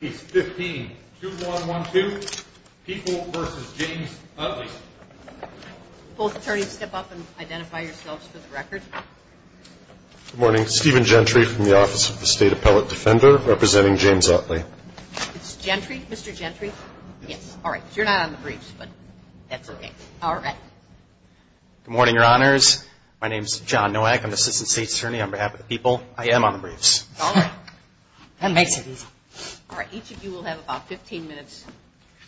15, 2-1-1-2, People v. James Utley. Both attorneys, step up and identify yourselves for the record. Good morning. Stephen Gentry from the Office of the State Appellate Defender, representing James Utley. It's Gentry? Mr. Gentry? Yes. All right. You're not on the briefs, but that's okay. All right. Good morning, Your Honors. My name's John Nowak. I'm the Assistant State's Attorney on behalf of the People. I am on the briefs. All right. That makes it easy. All right. Each of you will have about 15 minutes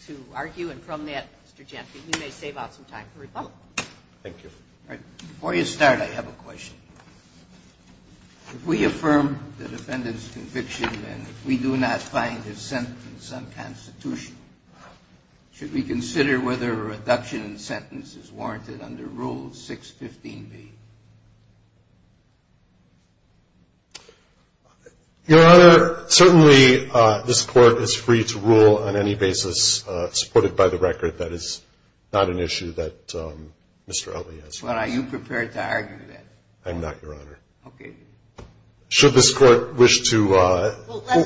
to argue. And from that, Mr. Gentry, you may save out some time for rebuttal. Thank you. All right. Before you start, I have a question. If we affirm the defendant's conviction and we do not find his sentence unconstitutional, should we consider whether a reduction in sentence is warranted under Rule 615B? Your Honor, certainly this Court is free to rule on any basis supported by the record. That is not an issue that Mr. Utley has. Well, are you prepared to argue that? I'm not, Your Honor. Okay. Should this Court wish to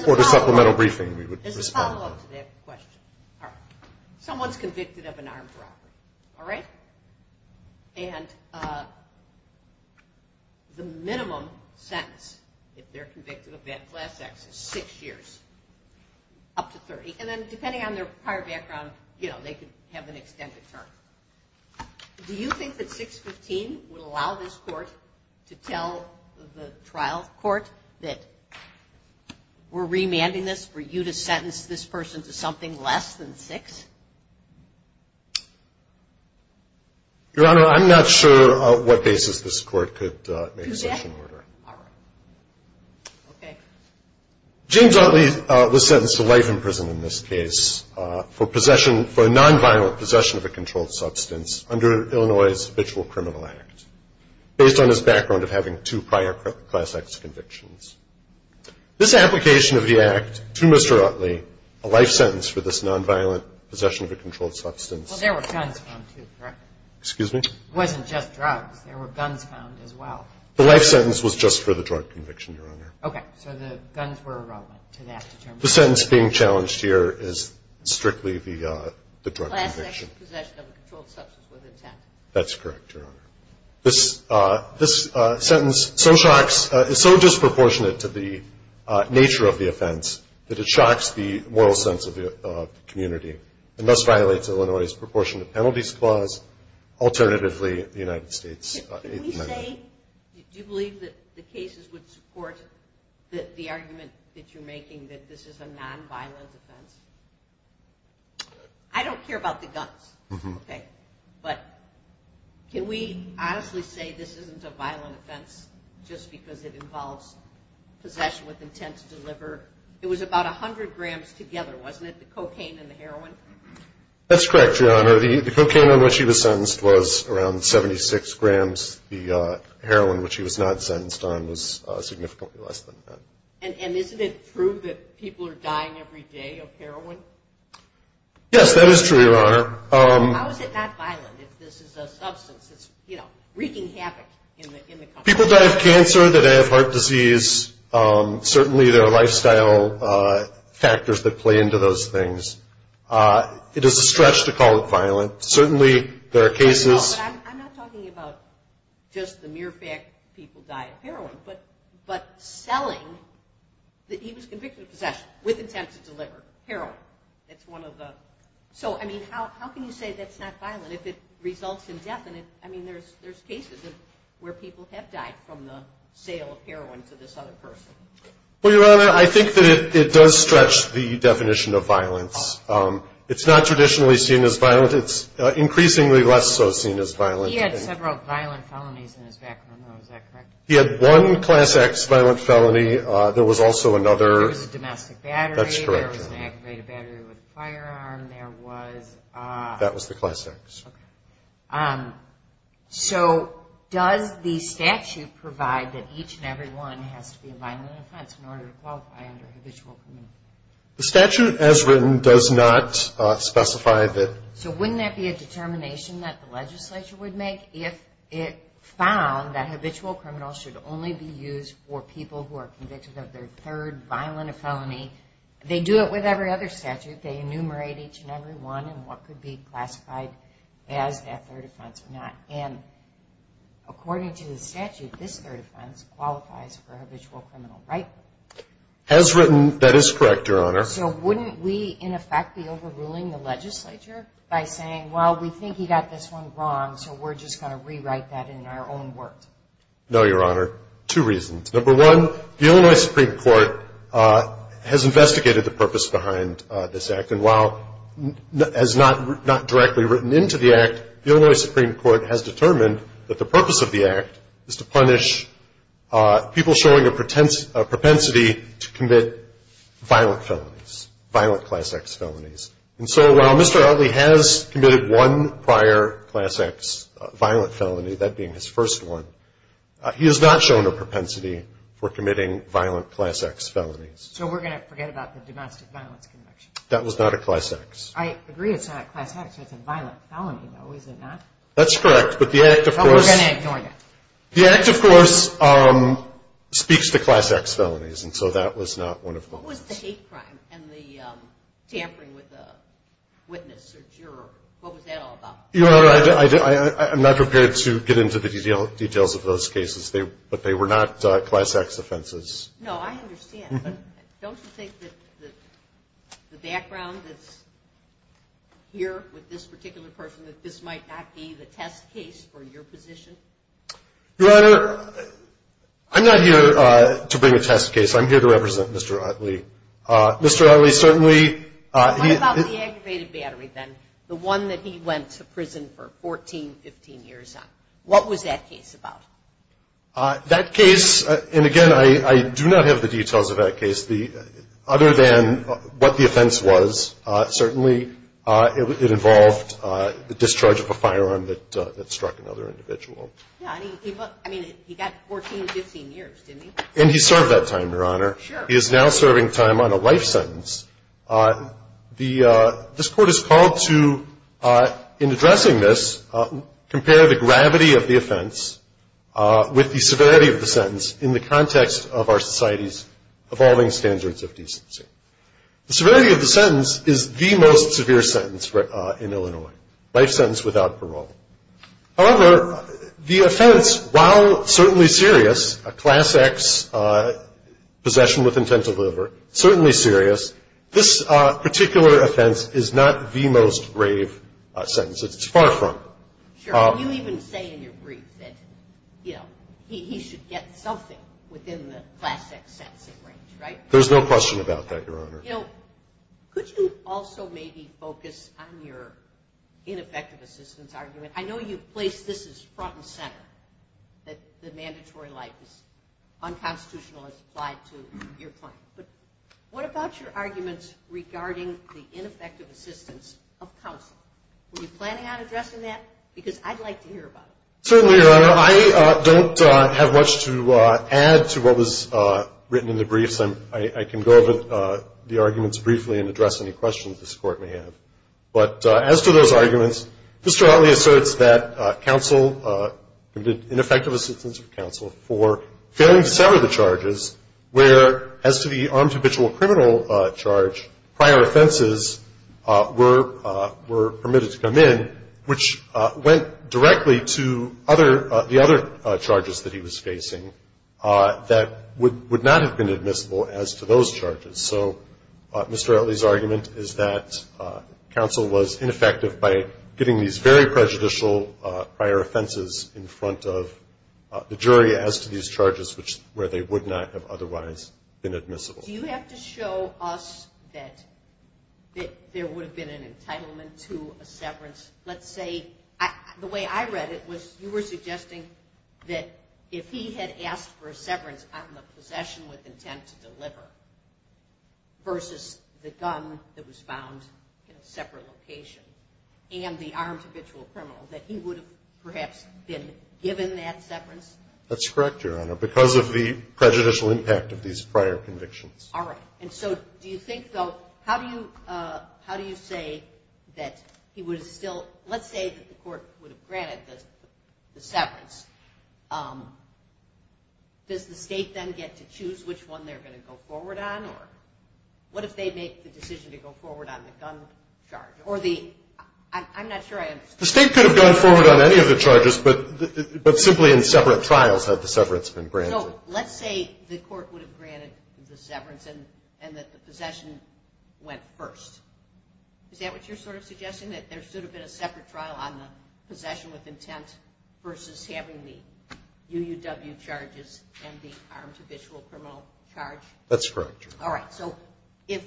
order supplemental briefing, we would respond. Let's follow up to that question. All right. Someone's convicted of an armed robbery. All right? And the minimum sentence if they're convicted of that class act is six years, up to 30. And then depending on their prior background, you know, they could have an extended term. Do you think that 615 would allow this Court to tell the trial court that we're remanding this for you to sentence this person to something less than six? Your Honor, I'm not sure what basis this Court could make such an order. All right. Okay. James Utley was sentenced to life in prison in this case for possession, for a nonviolent possession of a controlled substance under Illinois' habitual criminal act, based on his background of having two prior class acts convictions. This application of the act to Mr. Utley, a life sentence for this nonviolent possession of a controlled substance. Well, there were guns found too, correct? Excuse me? It wasn't just drugs. There were guns found as well. The life sentence was just for the drug conviction, Your Honor. Okay. So the guns were irrelevant to that determination. The sentence being challenged here is strictly the drug conviction. Class act is possession of a controlled substance with intent. That's correct, Your Honor. This sentence is so disproportionate to the nature of the offense that it shocks the moral sense of the community and thus violates Illinois' proportionate penalties clause, alternatively the United States Eighth Amendment. Mr. Utley, do you believe that the cases would support the argument that you're making that this is a nonviolent offense? I don't care about the guns. Okay. But can we honestly say this isn't a violent offense just because it involves possession with intent to deliver? It was about 100 grams together, wasn't it, the cocaine and the heroin? That's correct, Your Honor. The cocaine on which he was sentenced was around 76 grams. The heroin, which he was not sentenced on, was significantly less than that. And isn't it true that people are dying every day of heroin? Yes, that is true, Your Honor. How is it not violent if this is a substance that's wreaking havoc in the country? People die of cancer. They die of heart disease. Certainly there are lifestyle factors that play into those things. It is a stretch to call it violent. Certainly there are cases... I'm not talking about just the mere fact people die of heroin, but selling that he was convicted of possession with intent to deliver heroin. That's one of the... So, I mean, how can you say that's not violent if it results in death? I mean, there's cases where people have died from the sale of heroin to this other person. Well, Your Honor, I think that it does stretch the definition of violence. It's not traditionally seen as violent. It's increasingly less so seen as violent. He had several violent felonies in his background, though. Is that correct? He had one Class X violent felony. There was also another... There was a domestic battery. That's correct, Your Honor. There was an aggravated battery with a firearm. There was... That was the Class X. Okay. So, does the statute provide that each and every one has to be a violent offense in order to qualify under habitual criminal? The statute, as written, does not specify that... So, wouldn't that be a determination that the legislature would make if it found that habitual criminals should only be used for people who are convicted of their third violent felony? They do it with every other statute. They enumerate each and every one and what could be classified as that third offense or not. And according to the statute, this third offense qualifies for habitual criminal, right? As written, that is correct, Your Honor. So, wouldn't we, in effect, be overruling the legislature by saying, well, we think he got this one wrong, so we're just going to rewrite that in our own words? No, Your Honor. Two reasons. Number one, the Illinois Supreme Court has investigated the purpose behind this act, and while as not directly written into the act, the Illinois Supreme Court has determined that the purpose of the act is to punish people showing a propensity to commit violent felonies, violent Class X felonies. And so, while Mr. Utley has committed one prior Class X violent felony, that being his first one, he has not shown a propensity for committing violent Class X felonies. So, we're going to forget about the domestic violence conviction? That was not a Class X. I agree it's not a Class X. It's a violent felony, though, is it not? That's correct, but the act, of course. But we're going to ignore that. The act, of course, speaks to Class X felonies, and so that was not one of those. What was the hate crime and the tampering with the witness or juror, what was that all about? Your Honor, I'm not prepared to get into the details of those cases, but they were not Class X offenses. No, I understand. Don't you think that the background that's here with this particular person, that this might not be the test case for your position? Your Honor, I'm not here to bring a test case. I'm here to represent Mr. Utley. Mr. Utley certainly. What about the aggravated battery then? The one that he went to prison for 14, 15 years on. What was that case about? That case, and again, I do not have the details of that case. Other than what the offense was, certainly it involved the discharge of a firearm that struck another individual. Yeah, and he got 14 to 15 years, didn't he? And he served that time, Your Honor. Sure. He is now serving time on a life sentence. This Court has called to, in addressing this, compare the gravity of the offense with the severity of the sentence in the context of our society's evolving standards of decency. The severity of the sentence is the most severe sentence in Illinois, life sentence without parole. However, the offense, while certainly serious, a Class X possession with intent to deliver, certainly serious, this particular offense is not the most grave sentence. It's far from it. Sure. You even say in your brief that, you know, he should get something within the Class X sentence range, right? There's no question about that, Your Honor. You know, could you also maybe focus on your ineffective assistance argument? I know you've placed this as front and center, that the mandatory life is unconstitutional as applied to your claim. But what about your arguments regarding the ineffective assistance of counsel? Were you planning on addressing that? Because I'd like to hear about it. Certainly, Your Honor. I don't have much to add to what was written in the briefs. I can go over the arguments briefly and address any questions this Court may have. But as to those arguments, Mr. Utley asserts that counsel, ineffective assistance of counsel, for failing to sever the charges where, as to the armed habitual criminal charge, prior offenses were permitted to come in, which went directly to the other charges that he was facing that would not have been admissible as to those charges. So Mr. Utley's argument is that counsel was ineffective by getting these very prejudicial prior offenses in front of the jury as to these charges where they would not have otherwise been admissible. Do you have to show us that there would have been an entitlement to a severance? Let's say the way I read it was you were suggesting that if he had asked for a severance on the possession with intent to deliver versus the gun that was found in a separate location and the armed habitual criminal, that he would have perhaps been given that severance? That's correct, Your Honor, because of the prejudicial impact of these prior convictions. All right. And so do you think, though, how do you say that he was still – let's say that the court would have granted the severance. Does the State then get to choose which one they're going to go forward on? Or what if they make the decision to go forward on the gun charge? Or the – I'm not sure I understand. The State could have gone forward on any of the charges, but simply in separate trials had the severance been granted. So let's say the court would have granted the severance and that the possession went first. Is that what you're sort of suggesting, that there should have been a separate trial on the possession with intent versus having the UUW charges and the armed habitual criminal charge? That's correct, Your Honor. All right. So if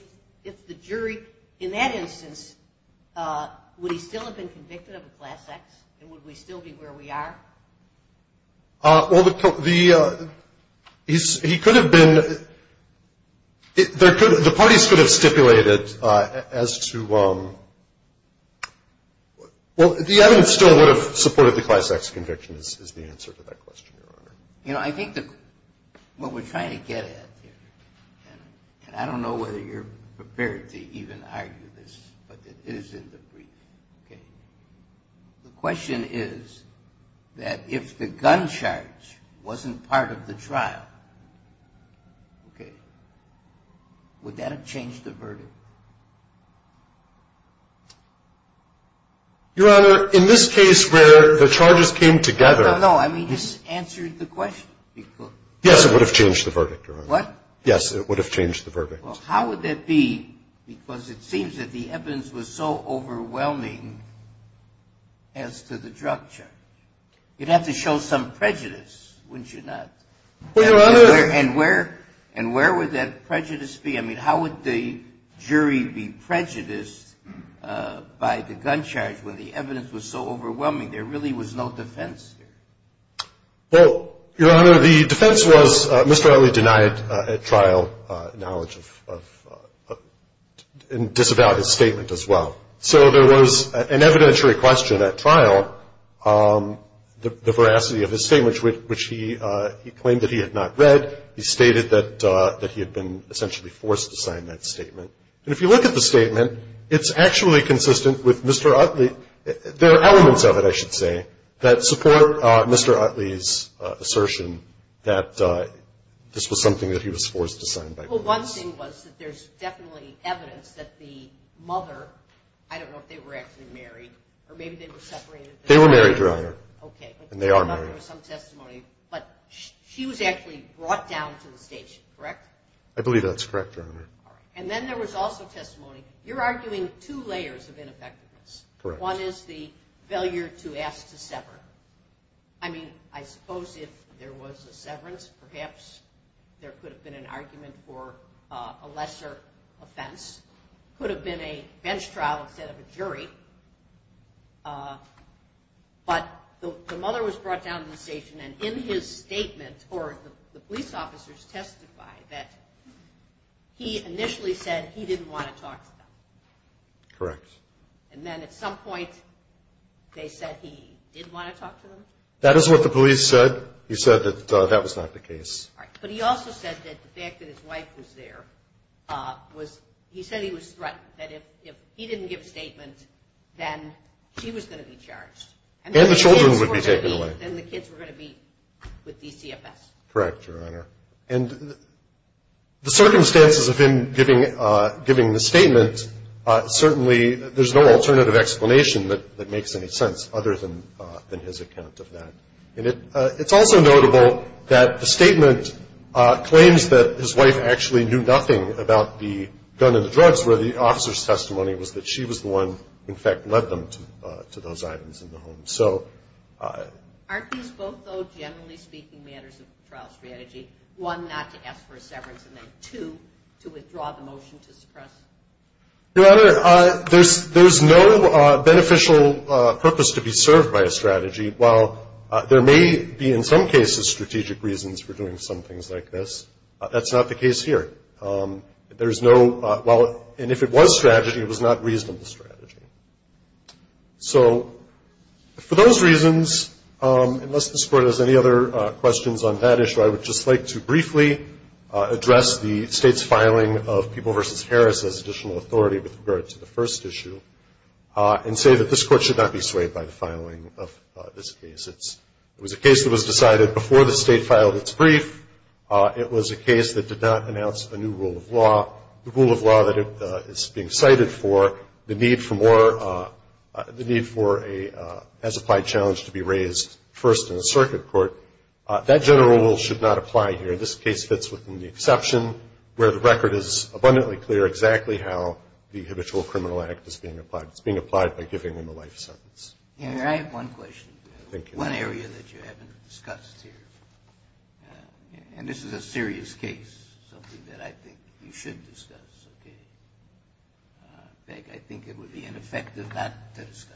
the jury – in that instance, would he still have been convicted of a class act and would we still be where we are? Well, the – he could have been – the parties could have stipulated as to – well, the evidence still would have supported the class acts conviction is the answer to that question, Your Honor. You know, I think that what we're trying to get at here, and I don't know whether you're prepared to even argue this, but it is in the briefing, okay? The question is that if the gun charge wasn't part of the trial, okay, would that have changed the verdict? Your Honor, in this case where the charges came together – No, no, no. I mean, it answered the question. Yes, it would have changed the verdict, Your Honor. What? Yes, it would have changed the verdict. Well, how would that be? Because it seems that the evidence was so overwhelming as to the drug charge. You'd have to show some prejudice, wouldn't you not? Well, Your Honor – And where would that prejudice be? I mean, how would the jury be prejudiced by the gun charge when the evidence was so overwhelming? There really was no defense there. Well, Your Honor, the defense was Mr. Utley denied at trial knowledge and disavowed his statement as well. So there was an evidentiary question at trial, the veracity of his statement, which he claimed that he had not read. He stated that he had been essentially forced to sign that statement. And if you look at the statement, it's actually consistent with Mr. Utley. There are elements of it, I should say, that support Mr. Utley's assertion that this was something that he was forced to sign. Well, one thing was that there's definitely evidence that the mother – I don't know if they were actually married, or maybe they were separated – They were married, Your Honor. Okay. And they are married. I thought there was some testimony. But she was actually brought down to the station, correct? I believe that's correct, Your Honor. All right. And then there was also testimony. You're arguing two layers of ineffectiveness. Correct. One is the failure to ask to sever. I mean, I suppose if there was a severance, perhaps there could have been an argument for a lesser offense. It could have been a bench trial instead of a jury. But the mother was brought down to the station. And in his statement, or the police officers testified that he initially said he didn't want to talk to them. Correct. And then at some point they said he did want to talk to them? That is what the police said. He said that that was not the case. All right. But he also said that the fact that his wife was there was – he said he was threatened, that if he didn't give a statement, then she was going to be charged. And the children would be taken away. And the kids were going to be with DCFS. Correct, Your Honor. And the circumstances of him giving the statement, certainly there's no alternative explanation that makes any sense other than his account of that. And it's also notable that the statement claims that his wife actually knew nothing about the gun and the drugs, where the officer's testimony was that she was the one who, in fact, led them to those items in the home. Aren't these both, though, generally speaking, matters of the trial strategy, one, not to ask for a severance, and then two, to withdraw the motion to suppress? Your Honor, there's no beneficial purpose to be served by a strategy. While there may be in some cases strategic reasons for doing some things like this, that's not the case here. There's no – and if it was strategy, it was not reasonable strategy. So for those reasons, unless this Court has any other questions on that issue, I would just like to briefly address the State's filing of People v. Harris as additional authority with regard to the first issue and say that this Court should not be swayed by the filing of this case. It was a case that was decided before the State filed its brief. It was a case that did not announce a new rule of law, the rule of law that it is being cited for, the need for more – the need for a as-applied challenge to be raised first in a circuit court. That general rule should not apply here. This case fits within the exception where the record is abundantly clear exactly how the habitual criminal act is being applied. It's being applied by giving them a life sentence. Your Honor, I have one question. Thank you. One area that you haven't discussed here, and this is a serious case, something that I think you should discuss. In fact, I think it would be ineffective not to discuss.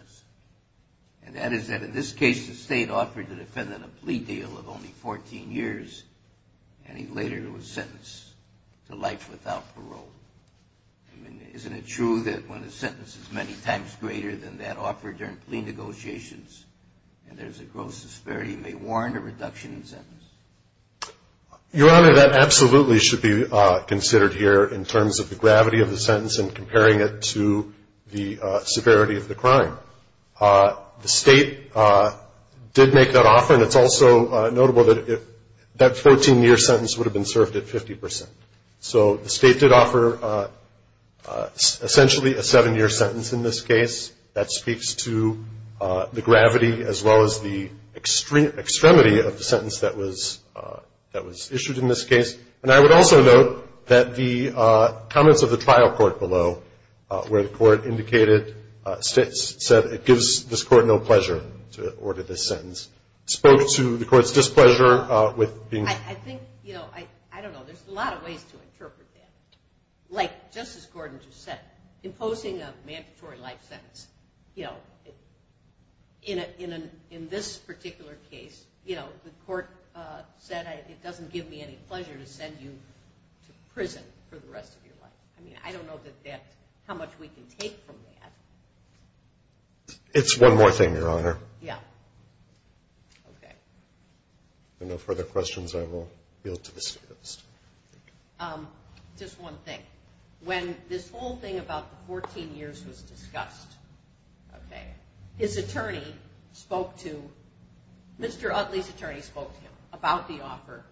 And that is that in this case, the State offered the defendant a plea deal of only 14 years, and he later was sentenced to life without parole. I mean, isn't it true that when a sentence is many times greater than that offered during plea negotiations and there's a gross disparity, may warrant a reduction in sentence? Your Honor, that absolutely should be considered here in terms of the gravity of the sentence and comparing it to the severity of the crime. The State did make that offer, and it's also notable that that 14-year sentence would have been served at 50%. So the State did offer essentially a seven-year sentence in this case. That speaks to the gravity as well as the extremity of the sentence that was issued in this case. And I would also note that the comments of the trial court below, where the court indicated, said it gives this court no pleasure to order this sentence, spoke to the court's displeasure with being. I think, you know, I don't know, there's a lot of ways to interpret that. Like Justice Gordon just said, imposing a mandatory life sentence, you know, in this particular case, you know, the court said it doesn't give me any pleasure to send you to prison for the rest of your life. I mean, I don't know how much we can take from that. It's one more thing, Your Honor. Yeah. Okay. If there are no further questions, I will yield to the State Justice. Just one thing. When this whole thing about the 14 years was discussed, okay, his attorney spoke to, Mr. Utley's attorney spoke to him about the offer.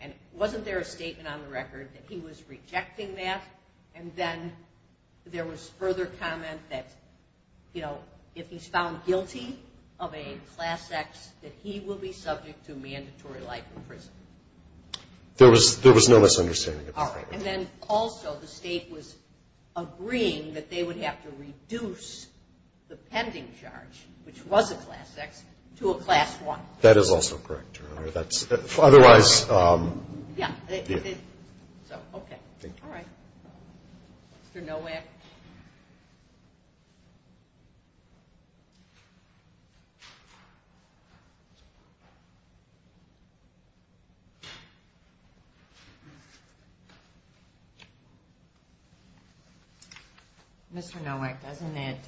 And wasn't there a statement on the record that he was rejecting that? And then there was further comment that, you know, if he's found guilty of a Class X, there was no misunderstanding at that point. All right. And then also the State was agreeing that they would have to reduce the pending charge, which was a Class X, to a Class I. That is also correct, Your Honor. Otherwise, yeah. So, okay. Thank you. All right. Mr. Nowak. Mr. Nowak, doesn't it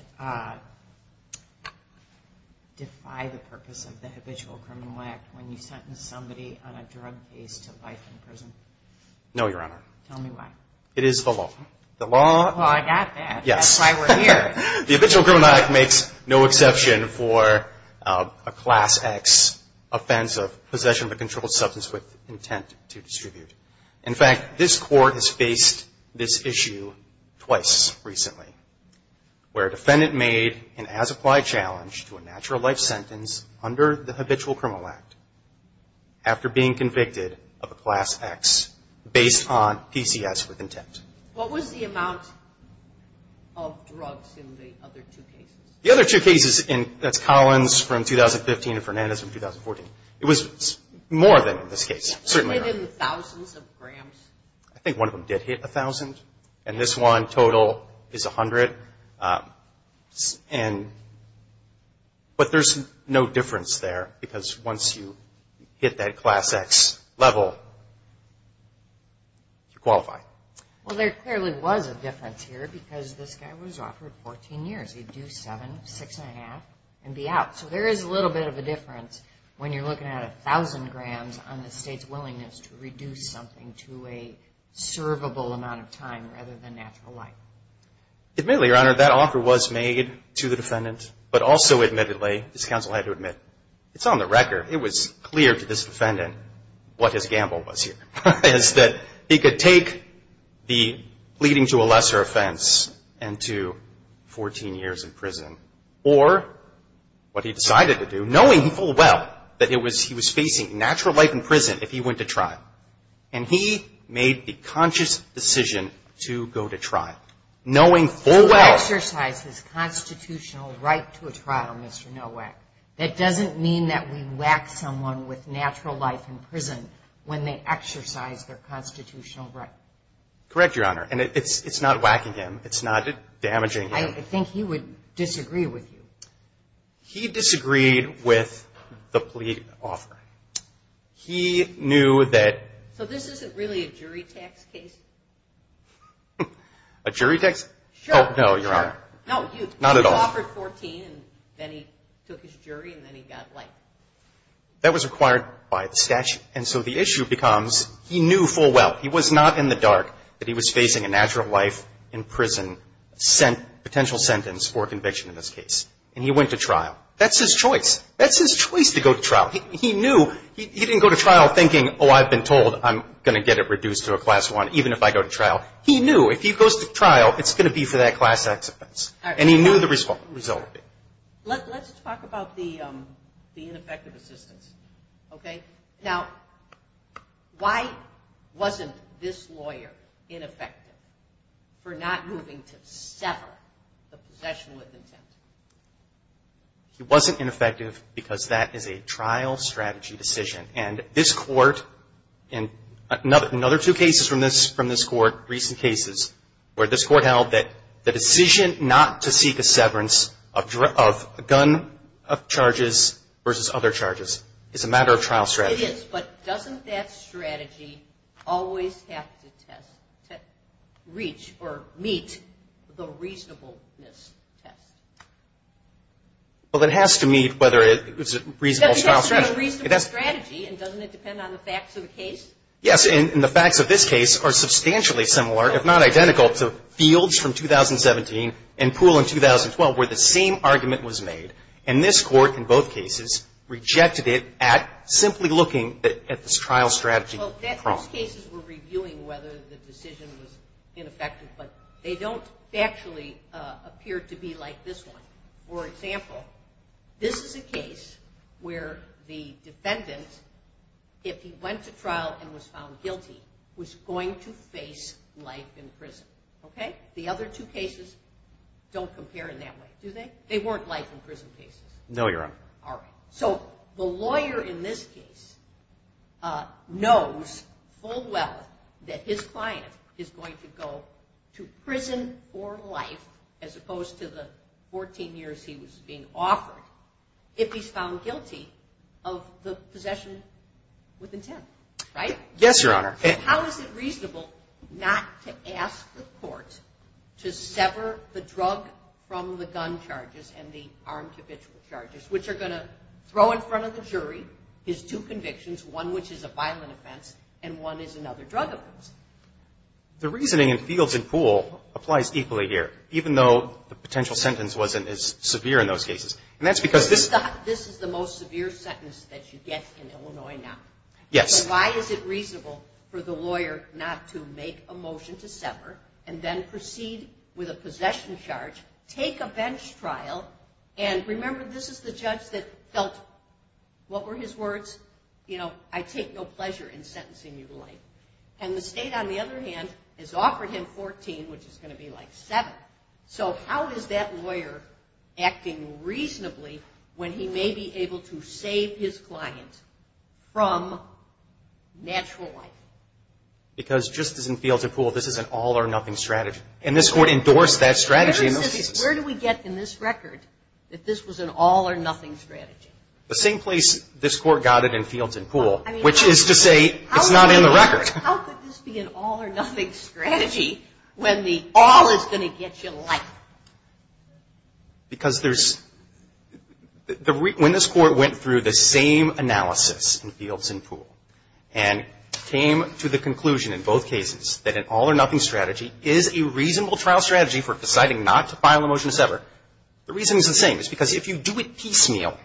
defy the purpose of the Habitual Criminal Act when you sentence somebody on a drug case to life in prison? No, Your Honor. Tell me why. It is the law. The law. Well, I got that. Yes. That's why we're here. The Habitual Criminal Act makes no exception for a Class X offense of possession of a controlled substance with the intent to kill. With intent to distribute. In fact, this Court has faced this issue twice recently, where a defendant made an as-applied challenge to a natural life sentence under the Habitual Criminal Act after being convicted of a Class X based on PCS with intent. What was the amount of drugs in the other two cases? The other two cases, that's Collins from 2015 and Fernandez from 2014. It was more than in this case. It hit in the thousands of grams. I think one of them did hit a thousand, and this one total is a hundred. But there's no difference there because once you hit that Class X level, you qualify. Well, there clearly was a difference here because this guy was offered 14 years. He'd do seven, six and a half, and be out. So there is a little bit of a difference when you're looking at a thousand grams on the state's willingness to reduce something to a servable amount of time rather than natural life. Admittedly, Your Honor, that offer was made to the defendant, but also admittedly, this counsel had to admit, it's on the record, it was clear to this defendant what his gamble was here, is that he could take the pleading to a lesser offense and to 14 years in prison, or what he decided to do, knowing full well that he was facing natural life in prison if he went to trial. And he made the conscious decision to go to trial, knowing full well. To exercise his constitutional right to a trial, Mr. Nowak, that doesn't mean that we whack someone with natural life in prison when they exercise their constitutional right. Correct, Your Honor. And it's not whacking him. It's not damaging him. I think he would disagree with you. He disagreed with the plea offer. He knew that... So this isn't really a jury tax case? A jury tax? Sure. Oh, no, Your Honor. No, you offered 14, and then he took his jury, and then he got life. That was required by the statute. And so the issue becomes, he knew full well, he was not in the dark, that he was facing a natural life in prison, potential sentence for conviction in this case. And he went to trial. That's his choice. That's his choice to go to trial. He knew. He didn't go to trial thinking, oh, I've been told I'm going to get it reduced to a Class I, even if I go to trial. He knew if he goes to trial, it's going to be for that Class X offense, and he knew the result would be. Let's talk about the ineffective assistance. Okay? Now, why wasn't this lawyer ineffective for not moving to sever the possession with intent? He wasn't ineffective because that is a trial strategy decision. And this Court, and another two cases from this Court, recent cases, where this Court held that the decision not to seek a severance of gun charges versus other charges is a matter of trial strategy. It is, but doesn't that strategy always have to test, reach, or meet the reasonableness test? Well, it has to meet whether it's a reasonable trial strategy. It has to be a reasonable strategy, and doesn't it depend on the facts of the case? Yes, and the facts of this case are substantially similar, if not identical, to Fields from 2017 and Poole in 2012, where the same argument was made. And this Court, in both cases, rejected it at simply looking at this trial strategy. Well, those cases were reviewing whether the decision was ineffective, but they don't actually appear to be like this one. For example, this is a case where the defendant, if he went to trial and was found guilty, was going to face life in prison. Okay? They weren't life in prison cases? No, Your Honor. All right. So the lawyer in this case knows full well that his client is going to go to prison or life, as opposed to the 14 years he was being offered, if he's found guilty of the possession with intent, right? Yes, Your Honor. How is it reasonable not to ask the Court to sever the drug from the gun charges and the armed habitual charges, which are going to throw in front of the jury his two convictions, one which is a violent offense and one is another drug offense? The reasoning in Fields and Poole applies equally here, even though the potential sentence wasn't as severe in those cases. And that's because this is the most severe sentence that you get in Illinois now. Yes. So why is it reasonable for the lawyer not to make a motion to sever and then proceed with a possession charge, take a bench trial, and remember this is the judge that felt, what were his words? You know, I take no pleasure in sentencing you to life. And the state, on the other hand, has offered him 14, which is going to be like 7. So how is that lawyer acting reasonably when he may be able to save his client from natural life? Because just as in Fields and Poole, this is an all-or-nothing strategy. And this Court endorsed that strategy in those cases. Where do we get in this record that this was an all-or-nothing strategy? The same place this Court got it in Fields and Poole, which is to say it's not in the record. How could this be an all-or-nothing strategy when the all is going to get you life? Because there's, when this Court went through the same analysis in Fields and Poole and came to the conclusion in both cases that an all-or-nothing strategy is a reasonable trial strategy for deciding not to file a motion to sever, the reason is the same. It's because if you do it piecemeal,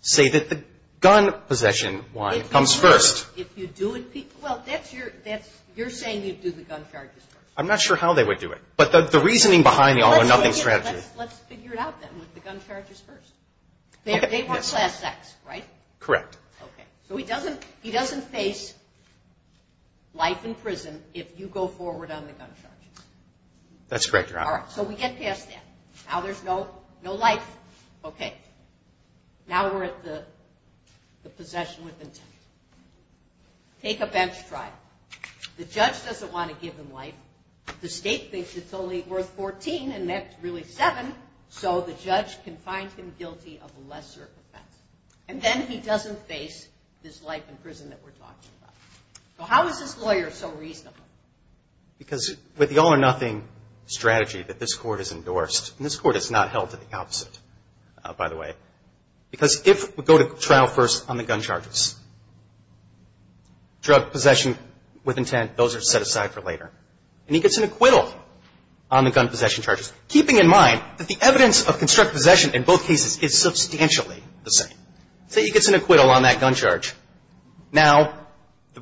say that the gun possession one comes first. If you do it piecemeal, that's your, you're saying you'd do the gun charges first. I'm not sure how they would do it. But the reasoning behind the all-or-nothing strategy. Let's figure it out then with the gun charges first. They weren't class X, right? Correct. Okay. So he doesn't face life in prison if you go forward on the gun charges. That's correct, Your Honor. All right. So we get past that. Now there's no life. Okay. Now we're at the possession with intent. Take a bench trial. The judge doesn't want to give him life. The state thinks it's only worth 14 and that's really seven, so the judge can find him guilty of a lesser offense. And then he doesn't face this life in prison that we're talking about. So how is this lawyer so reasonable? Because with the all-or-nothing strategy that this Court has endorsed, and this Court has not held to the opposite, by the way, because if we go to trial first on the gun charges, drug possession with intent, those are set aside for later. And he gets an acquittal on the gun possession charges, keeping in mind that the evidence of constructive possession in both cases is substantially the same. So he gets an acquittal on that gun charge. Now,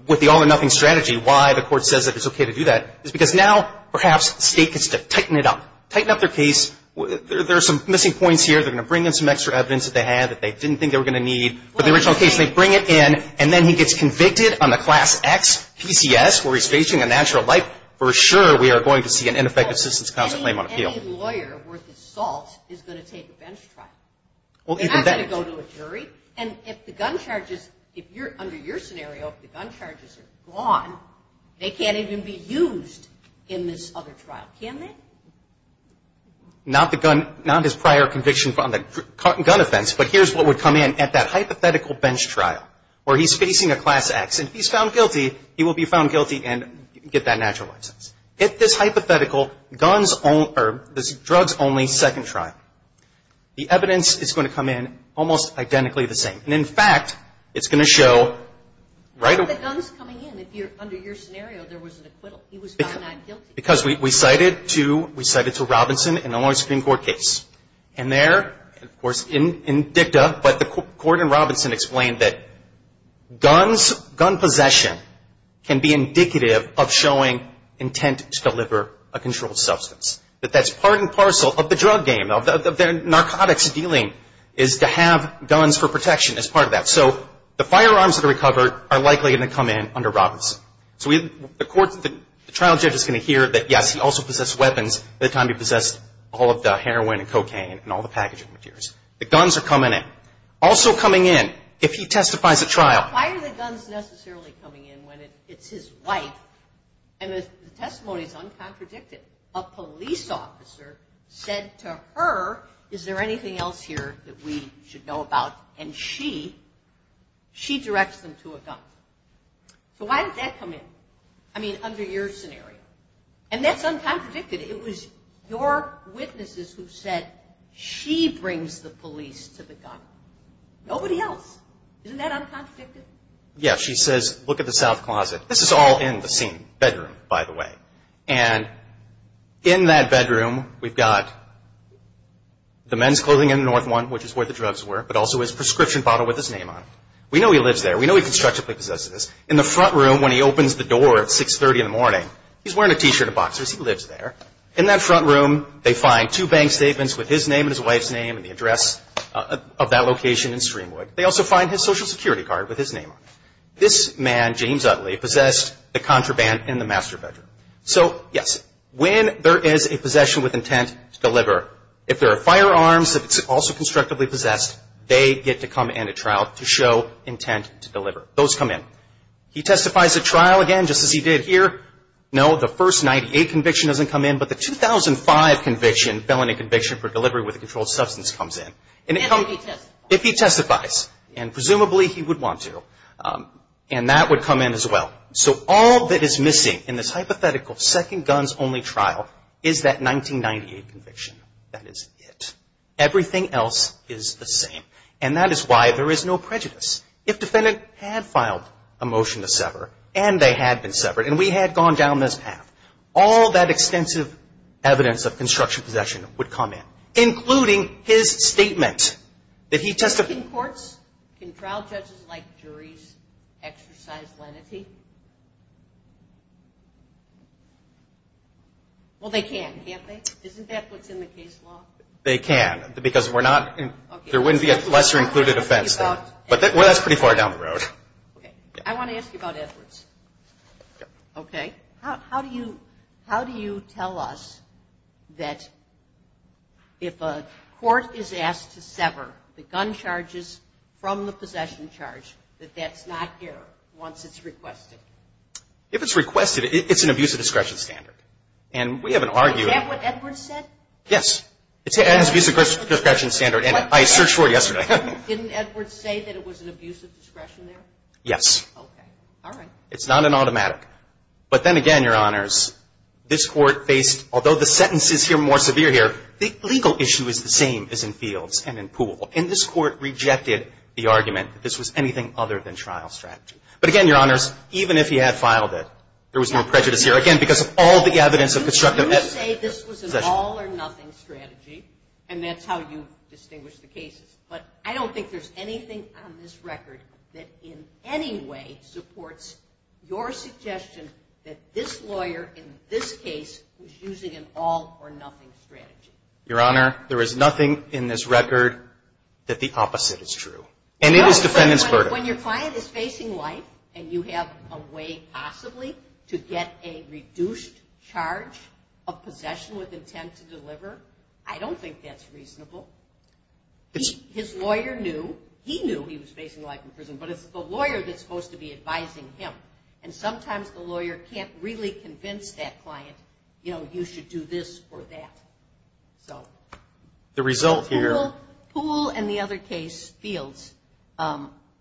with the all-or-nothing strategy, why the Court says that it's okay to do that is because now perhaps the state gets to tighten it up, tighten up their case. There are some missing points here. They're going to bring in some extra evidence that they had that they didn't think they were going to need for the original case. They bring it in, and then he gets convicted on the Class X PCS where he's facing a natural life. For sure we are going to see an ineffective citizen's counsel claim on appeal. Any lawyer worth his salt is going to take a bench trial. They're not going to go to a jury. And if the gun charges, under your scenario, if the gun charges are gone, they can't even be used in this other trial. Can they? Not his prior conviction on the gun offense, but here's what would come in at that hypothetical bench trial where he's facing a Class X, and if he's found guilty, he will be found guilty and get that natural license. At this hypothetical drugs-only second trial, the evidence is going to come in almost identically the same. And, in fact, it's going to show right away. But the gun's coming in. Under your scenario, there was an acquittal. He was found not guilty. Because we cited to Robinson an Illinois Supreme Court case. And there, of course, in dicta, but the court in Robinson explained that guns, gun possession can be indicative of showing intent to deliver a controlled substance. That that's part and parcel of the drug game, of their narcotics dealing is to have guns for protection as part of that. So the firearms that are recovered are likely going to come in under Robinson. So the trial judge is going to hear that, yes, he also possessed weapons at the time he possessed all of the heroin and cocaine and all the packaging materials. The guns are coming in. Also coming in, if he testifies at trial. Why are the guns necessarily coming in when it's his wife? And the testimony is uncontradicted. A police officer said to her, is there anything else here that we should know about? And she directs them to a gun. So why did that come in? I mean, under your scenario. And that's uncontradicted. It was your witnesses who said she brings the police to the gun. Nobody else. Isn't that uncontradicted? Yes. She says, look at the south closet. This is all in the same bedroom, by the way. And in that bedroom, we've got the men's clothing in the north one, which is where the drugs were, but also his prescription bottle with his name on it. We know he lives there. We know he constructively possesses this. In the front room, when he opens the door at 630 in the morning, he's wearing a T-shirt and boxers. He lives there. In that front room, they find two bank statements with his name and his wife's name and the address of that location in Streamwood. They also find his Social Security card with his name on it. This man, James Utley, possessed the contraband in the master bedroom. So, yes, when there is a possession with intent to deliver, if there are firearms that it's also constructively possessed, they get to come in at trial to show intent to deliver. Those come in. He testifies at trial again, just as he did here. No, the first 98 conviction doesn't come in, but the 2005 conviction, felony conviction for delivery with a controlled substance, comes in. If he testifies. If he testifies. And presumably, he would want to. And that would come in as well. So all that is missing in this hypothetical second guns only trial is that 1998 conviction. That is it. Everything else is the same. And that is why there is no prejudice. If defendant had filed a motion to sever, and they had been severed, and we had gone down this path, all that extensive evidence of construction possession would come in, including his statement that he testified. In courts, can trial judges like juries exercise lenity? Well, they can, can't they? Isn't that what's in the case law? They can, because there wouldn't be a lesser included offense there. But that's pretty far down the road. Okay. I want to ask you about Edwards. Okay. How do you tell us that if a court is asked to sever the gun charges from the possession charge, that that's not here once it's requested? If it's requested, it's an abuse of discretion standard. And we have an argument. Is that what Edwards said? Yes. It's an abuse of discretion standard, and I searched for it yesterday. Didn't Edwards say that it was an abuse of discretion there? Yes. Okay. All right. It's not an automatic. But then again, Your Honors, this Court faced, although the sentences here are more severe here, the legal issue is the same as in Fields and in Poole. And this Court rejected the argument that this was anything other than trial strategy. But again, Your Honors, even if he had filed it, there was no prejudice here, again, because of all the evidence of construction. You say this was an all-or-nothing strategy, and that's how you distinguish the cases. But I don't think there's anything on this record that in any way supports your suggestion that this lawyer in this case was using an all-or-nothing strategy. Your Honor, there is nothing in this record that the opposite is true. And it is defendant's verdict. When your client is facing life and you have a way possibly to get a reduced charge of possession with intent to deliver, I don't think that's reasonable. His lawyer knew. He knew he was facing life in prison. But it's the lawyer that's supposed to be advising him, and sometimes the lawyer can't really convince that client, you know, you should do this or that. So. The result here. Poole and the other case, Fields,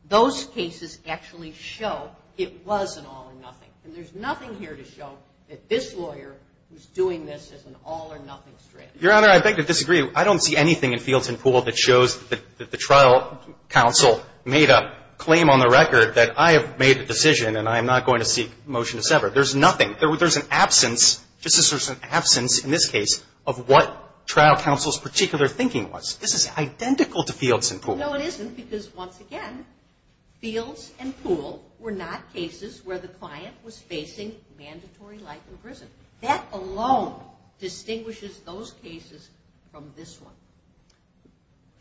those cases actually show it was an all-or-nothing. And there's nothing here to show that this lawyer was doing this as an all-or-nothing strategy. Your Honor, I beg to disagree. I don't see anything in Fields and Poole that shows that the trial counsel made a claim on the record that I have made a decision and I am not going to seek motion to sever. There's nothing. There's an absence, just as there's an absence in this case of what trial counsel's particular thinking was. This is identical to Fields and Poole. No, it isn't, because once again, Fields and Poole were not cases where the client was facing mandatory life in prison. That alone distinguishes those cases from this one.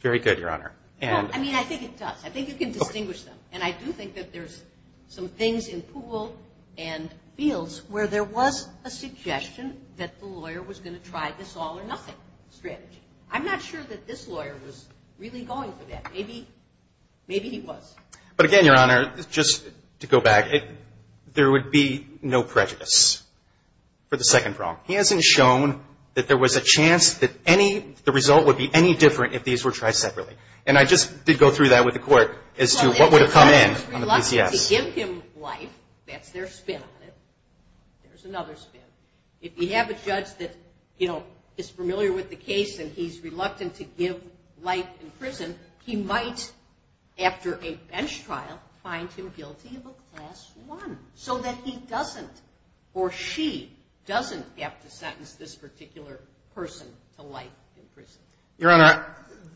Very good, Your Honor. I mean, I think it does. I think you can distinguish them. And I do think that there's some things in Poole and Fields where there was a suggestion that the lawyer was going to try this all-or-nothing strategy. I'm not sure that this lawyer was really going for that. Maybe he was. But again, Your Honor, just to go back, there would be no prejudice for the second problem. He hasn't shown that there was a chance that the result would be any different if these were tried separately. And I just did go through that with the court as to what would have come in on the case. Well, if the judge was reluctant to give him life, that's their spin on it. There's another spin. If you have a judge that, you know, is familiar with the case and he's reluctant to give life in prison, he might, after a bench trial, find him guilty of a Class I so that he doesn't or she doesn't have to sentence this particular person to life in prison. Your Honor,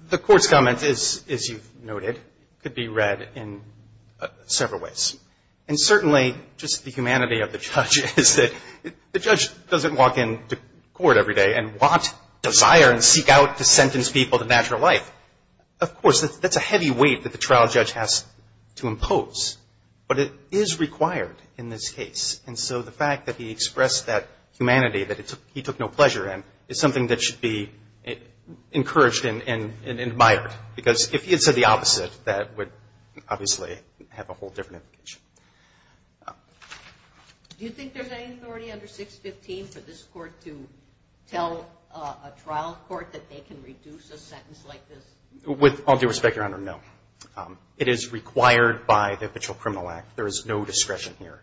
the court's comment is, as you've noted, could be read in several ways. And certainly, just the humanity of the judge is that the judge doesn't walk into court every day and want, desire, and seek out to sentence people to natural life. Of course, that's a heavy weight that the trial judge has to impose. But it is required in this case. And so the fact that he expressed that humanity that he took no pleasure in is something that should be encouraged and admired. Because if he had said the opposite, that would obviously have a whole different implication. Do you think there's any authority under 615 for this court to tell a trial court that they can reduce a sentence like this? With all due respect, Your Honor, no. It is required by the Official Criminal Act. There is no discretion here.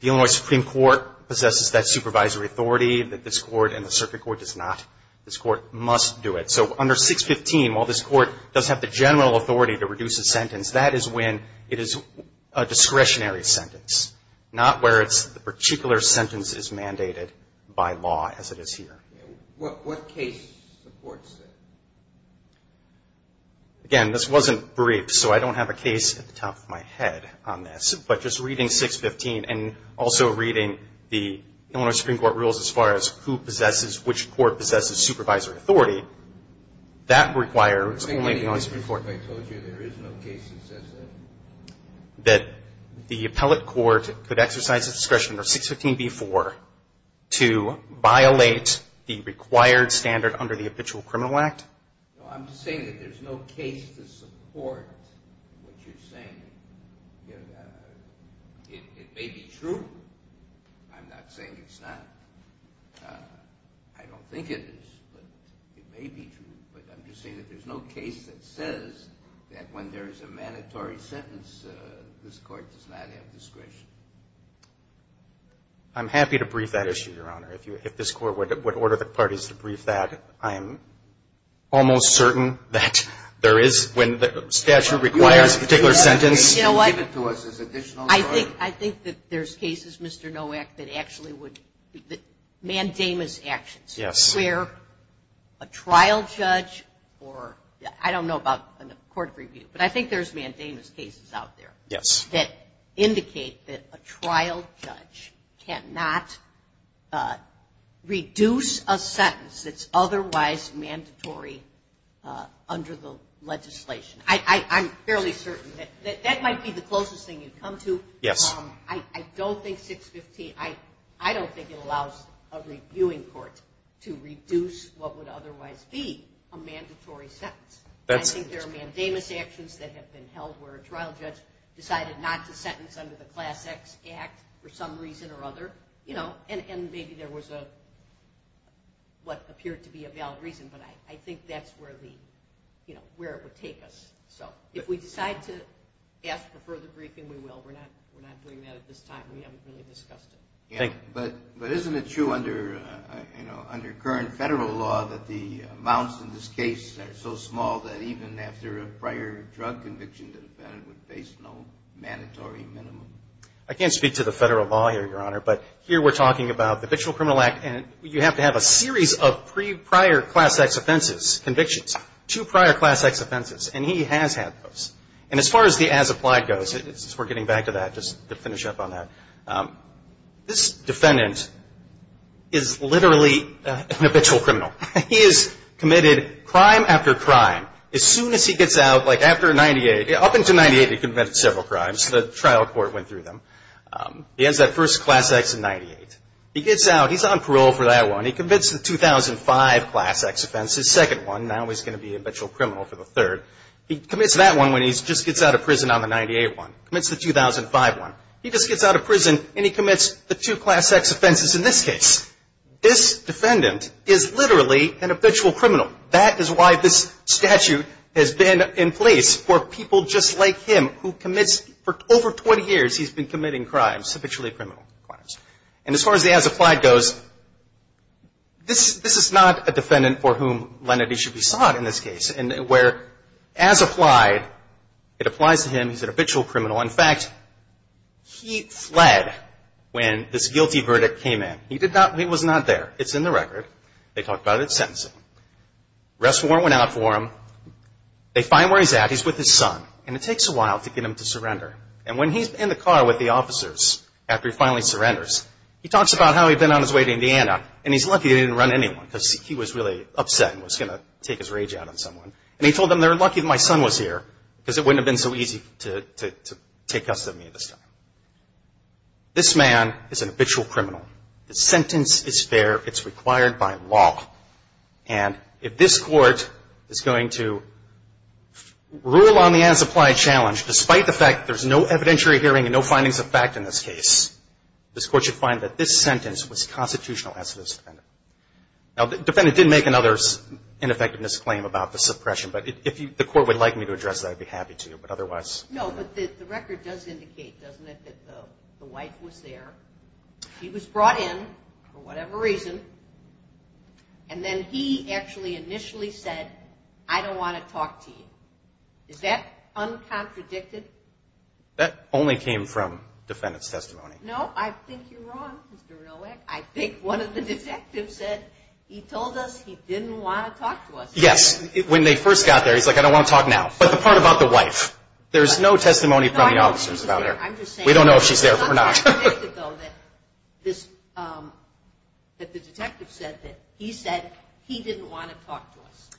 The Illinois Supreme Court possesses that supervisory authority that this court and the circuit court does not. This court must do it. So under 615, while this court does have the general authority to reduce a sentence, that is when it is a discretionary sentence, not where the particular sentence is mandated by law as it is here. What case supports this? Again, this wasn't briefed, so I don't have a case at the top of my head on this. But just reading 615 and also reading the Illinois Supreme Court rules as far as who possesses, which court possesses supervisory authority, that requires the Illinois Supreme Court. I told you there is no case that says that. That the appellate court could exercise a discretion under 615b-4 to violate the required standard under the Official Criminal Act? I'm just saying that there's no case to support what you're saying. It may be true. I'm not saying it's not. I don't think it is, but it may be true. But I'm just saying that there's no case that says that when there is a mandatory sentence, this court does not have discretion. I'm happy to brief that issue, Your Honor. If this Court would order the parties to brief that, I am almost certain that there is, when the statute requires a particular sentence. You know what? You give it to us as additional. I think that there's cases, Mr. Nowak, that actually would be mandamus actions. Yes. Where a trial judge or I don't know about court review, but I think there's mandamus cases out there. Yes. That indicate that a trial judge cannot reduce a sentence that's otherwise mandatory under the legislation. I'm fairly certain that that might be the closest thing you'd come to. Yes. I don't think 615, I don't think it allows a reviewing court to reduce what would otherwise be a mandatory sentence. I think there are mandamus actions that have been held where a trial judge decided not to sentence under the Class X Act for some reason or other. And maybe there was what appeared to be a valid reason, but I think that's where the, you know, where it would take us. So if we decide to ask for further briefing, we will. We're not doing that at this time. We haven't really discussed it. Thank you. But isn't it true under current federal law that the amounts in this case are so small that even after a prior drug conviction, the defendant would face no mandatory minimum? I can't speak to the federal law here, Your Honor, but here we're talking about the Victim of Criminal Act, and you have to have a series of prior Class X offenses, convictions. Two prior Class X offenses, and he has had those. And as far as the as applied goes, we're getting back to that just to finish up on that. This defendant is literally an habitual criminal. He has committed crime after crime. As soon as he gets out, like after 98, up until 98 he committed several crimes. The trial court went through them. He has that first Class X in 98. He gets out. He's on parole for that one. He commits the 2005 Class X offense, his second one. Now he's going to be a habitual criminal for the third. He commits that one when he just gets out of prison on the 98 one. Commits the 2005 one. He just gets out of prison, and he commits the two Class X offenses in this case. This defendant is literally an habitual criminal. That is why this statute has been in place for people just like him who commits, for over 20 years he's been committing crimes, habitually criminal crimes. And as far as the as applied goes, this is not a defendant for whom lenity should be sought in this case. Where as applied, it applies to him. He's an habitual criminal. In fact, he fled when this guilty verdict came in. He was not there. It's in the record. They talk about it at sentencing. The rest of the court went out for him. They find where he's at. He's with his son. And it takes a while to get him to surrender. And when he's in the car with the officers after he finally surrenders, he talks about how he'd been on his way to Indiana, and he's lucky he didn't run into anyone because he was really upset and was going to take his rage out on someone. And he told them they were lucky my son was here because it wouldn't have been so easy to take custody of me at this time. This man is an habitual criminal. The sentence is fair. It's required by law. And if this court is going to rule on the as applied challenge despite the fact there's no evidentiary hearing and no findings of fact in this case, this court should find that this sentence was constitutional as to this defendant. Now, the defendant didn't make another ineffectiveness claim about the suppression. But if the court would like me to address that, I'd be happy to. But otherwise. No, but the record does indicate, doesn't it, that the wife was there. He was brought in for whatever reason. And then he actually initially said, I don't want to talk to you. Is that uncontradicted? That only came from defendant's testimony. No, I think you're wrong, Mr. Roek. I think one of the detectives said he told us he didn't want to talk to us. Yes. When they first got there, he's like, I don't want to talk now. But the part about the wife, there's no testimony from the officers about her. We don't know if she's there or not. It's uncontradicted, though, that the detective said that he said he didn't want to talk to us.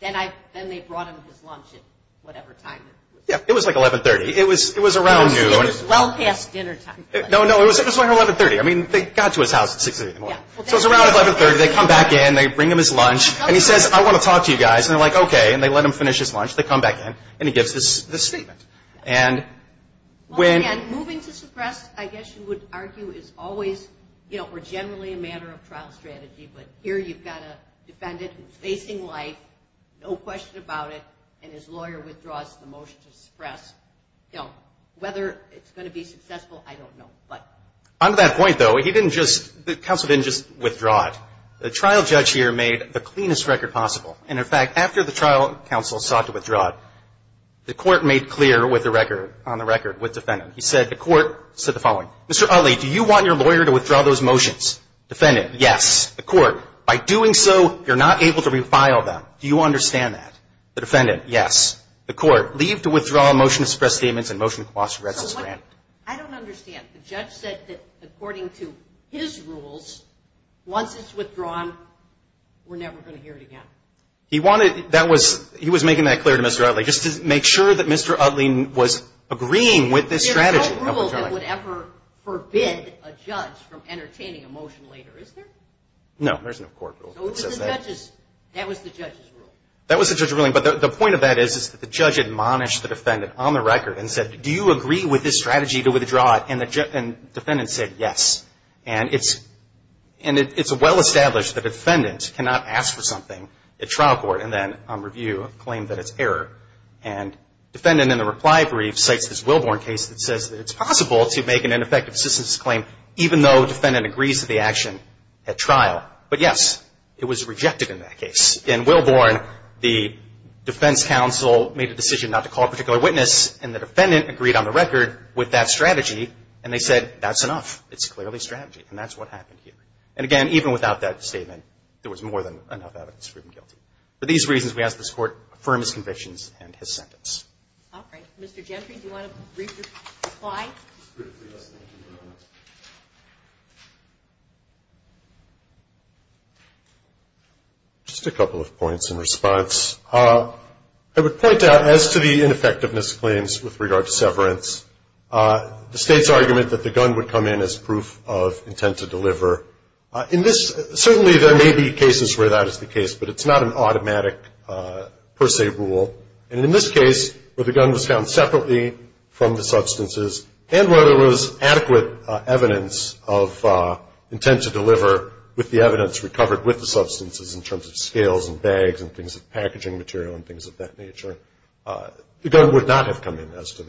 Then they brought him his lunch at whatever time. Yeah, it was like 1130. It was around noon. It was well past dinnertime. No, no. It was around 1130. I mean, they got to his house at 6 o'clock. So it was around 1130. They come back in. They bring him his lunch. And he says, I want to talk to you guys. And they're like, okay. And they let him finish his lunch. They come back in. And he gives this statement. Well, again, moving to suppress, I guess you would argue, is always or generally a matter of trial strategy. But here you've got a defendant who's facing life, no question about it, and his lawyer withdraws the motion to suppress. Now, whether it's going to be successful, I don't know. But. On that point, though, he didn't just, the counsel didn't just withdraw it. The trial judge here made the cleanest record possible. And, in fact, after the trial, counsel sought to withdraw it. The court made clear with the record, on the record, with defendant. He said, the court said the following, Mr. Utley, do you want your lawyer to withdraw those motions? Defendant, yes. The court, by doing so, you're not able to refile them. Do you understand that? The defendant, yes. The court, leave to withdraw motion to suppress statements and motion to quash arrests is granted. I don't understand. The judge said that, according to his rules, once it's withdrawn, we're never going to hear it again. He wanted, that was, he was making that clear to Mr. Utley, just to make sure that Mr. Utley was agreeing with this strategy. There's no rule that would ever forbid a judge from entertaining a motion later, is there? No, there's no court rule that says that. That was the judge's rule. That was the judge's ruling. But the point of that is that the judge admonished the defendant, on the record, and said, do you agree with this strategy to withdraw it? And the defendant said, yes. And it's well established that a defendant cannot ask for something at trial court and then on review claim that it's error. And defendant, in a reply brief, cites this Wilborn case that says that it's possible to make an ineffective assistance claim even though defendant agrees to the action at trial. But, yes, it was rejected in that case. In Wilborn, the defense counsel made a decision not to call a particular witness, and the defendant agreed on the record with that strategy. And they said, that's enough. It's clearly strategy. And that's what happened here. And, again, even without that statement, there was more than enough evidence proven guilty. For these reasons, we ask that this Court affirm his convictions and his sentence. All right. Mr. Gentry, do you want to brief your reply? Just a couple of points in response. I would point out, as to the ineffectiveness claims with regard to severance, the State's argument that the gun would come in as proof of intent to deliver. In this, certainly there may be cases where that is the case, but it's not an automatic per se rule. And in this case, where the gun was found separately from the substances, and where there was adequate evidence of intent to deliver with the evidence recovered with the substances in terms of scales and bags and things of packaging material and things of that nature, the gun would not have come in as to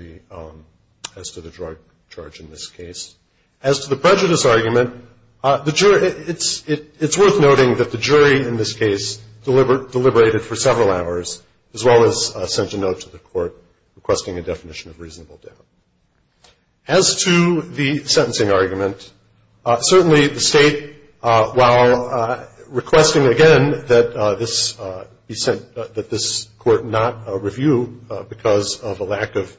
the drug charge in this case. As to the prejudice argument, it's worth noting that the jury in this case deliberated for several hours, as well as sent a note to the Court requesting a definition of reasonable doubt. As to the sentencing argument, certainly the State, while requesting, again, that this Court not review because of a lack of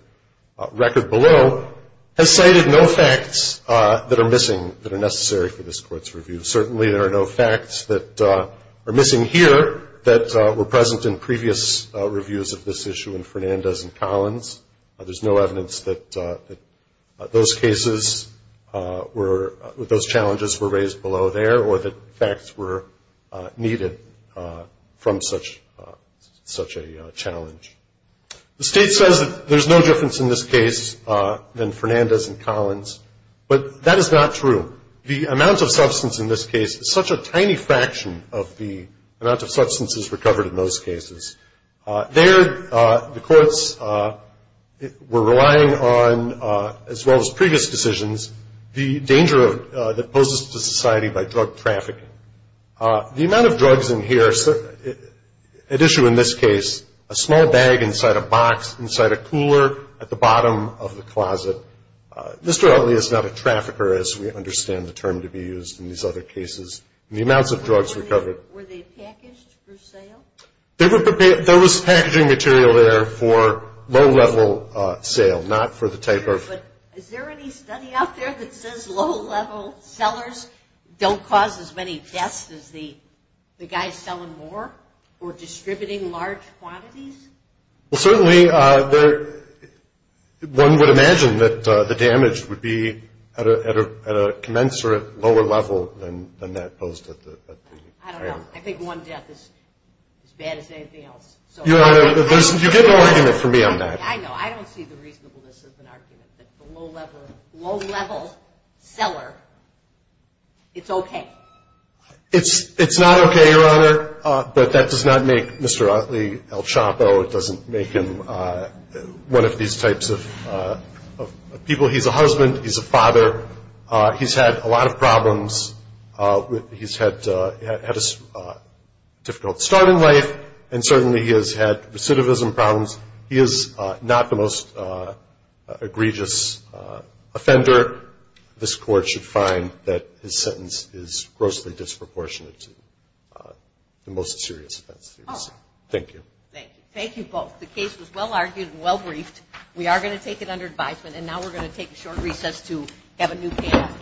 record below, has cited no facts that are missing that are necessary for this Court's review. Certainly there are no facts that are missing here that were present in previous reviews of this issue in Fernandez and Collins. There's no evidence that those cases were – that those challenges were raised below there or that facts were needed from such a challenge. The State says that there's no difference in this case than Fernandez and Collins, but that is not true. The amount of substance in this case is such a tiny fraction of the amount of substances recovered in those cases. There the courts were relying on, as well as previous decisions, the danger that poses to society by drug trafficking. The amount of drugs in here at issue in this case, a small bag inside a box, inside a cooler, at the bottom of the closet. Mr. Otley is not a trafficker, as we understand the term to be used in these other cases. The amounts of drugs recovered. Were they packaged for sale? There was packaging material there for low-level sale, not for the type of – But is there any study out there that says low-level sellers don't cause as many deaths as the guys selling more or distributing large quantities? Well, certainly, one would imagine that the damage would be at a commensurate lower level than that posed at the – I don't know. I think one death is as bad as anything else. Your Honor, you get no argument from me on that. I know. I don't see the reasonableness of an argument that the low-level seller, it's okay. It's not okay, Your Honor, but that does not make Mr. Otley El Chapo. It doesn't make him one of these types of people. He's a husband. He's a father. He's had a lot of problems. He's had a difficult start in life, and certainly he has had recidivism problems. He is not the most egregious offender. This Court should find that his sentence is grossly disproportionate to the most serious offense. Thank you. Thank you. Thank you both. The case was well-argued and well-briefed. We are going to take it under advisement, and now we're going to take a short recess to have a new panel.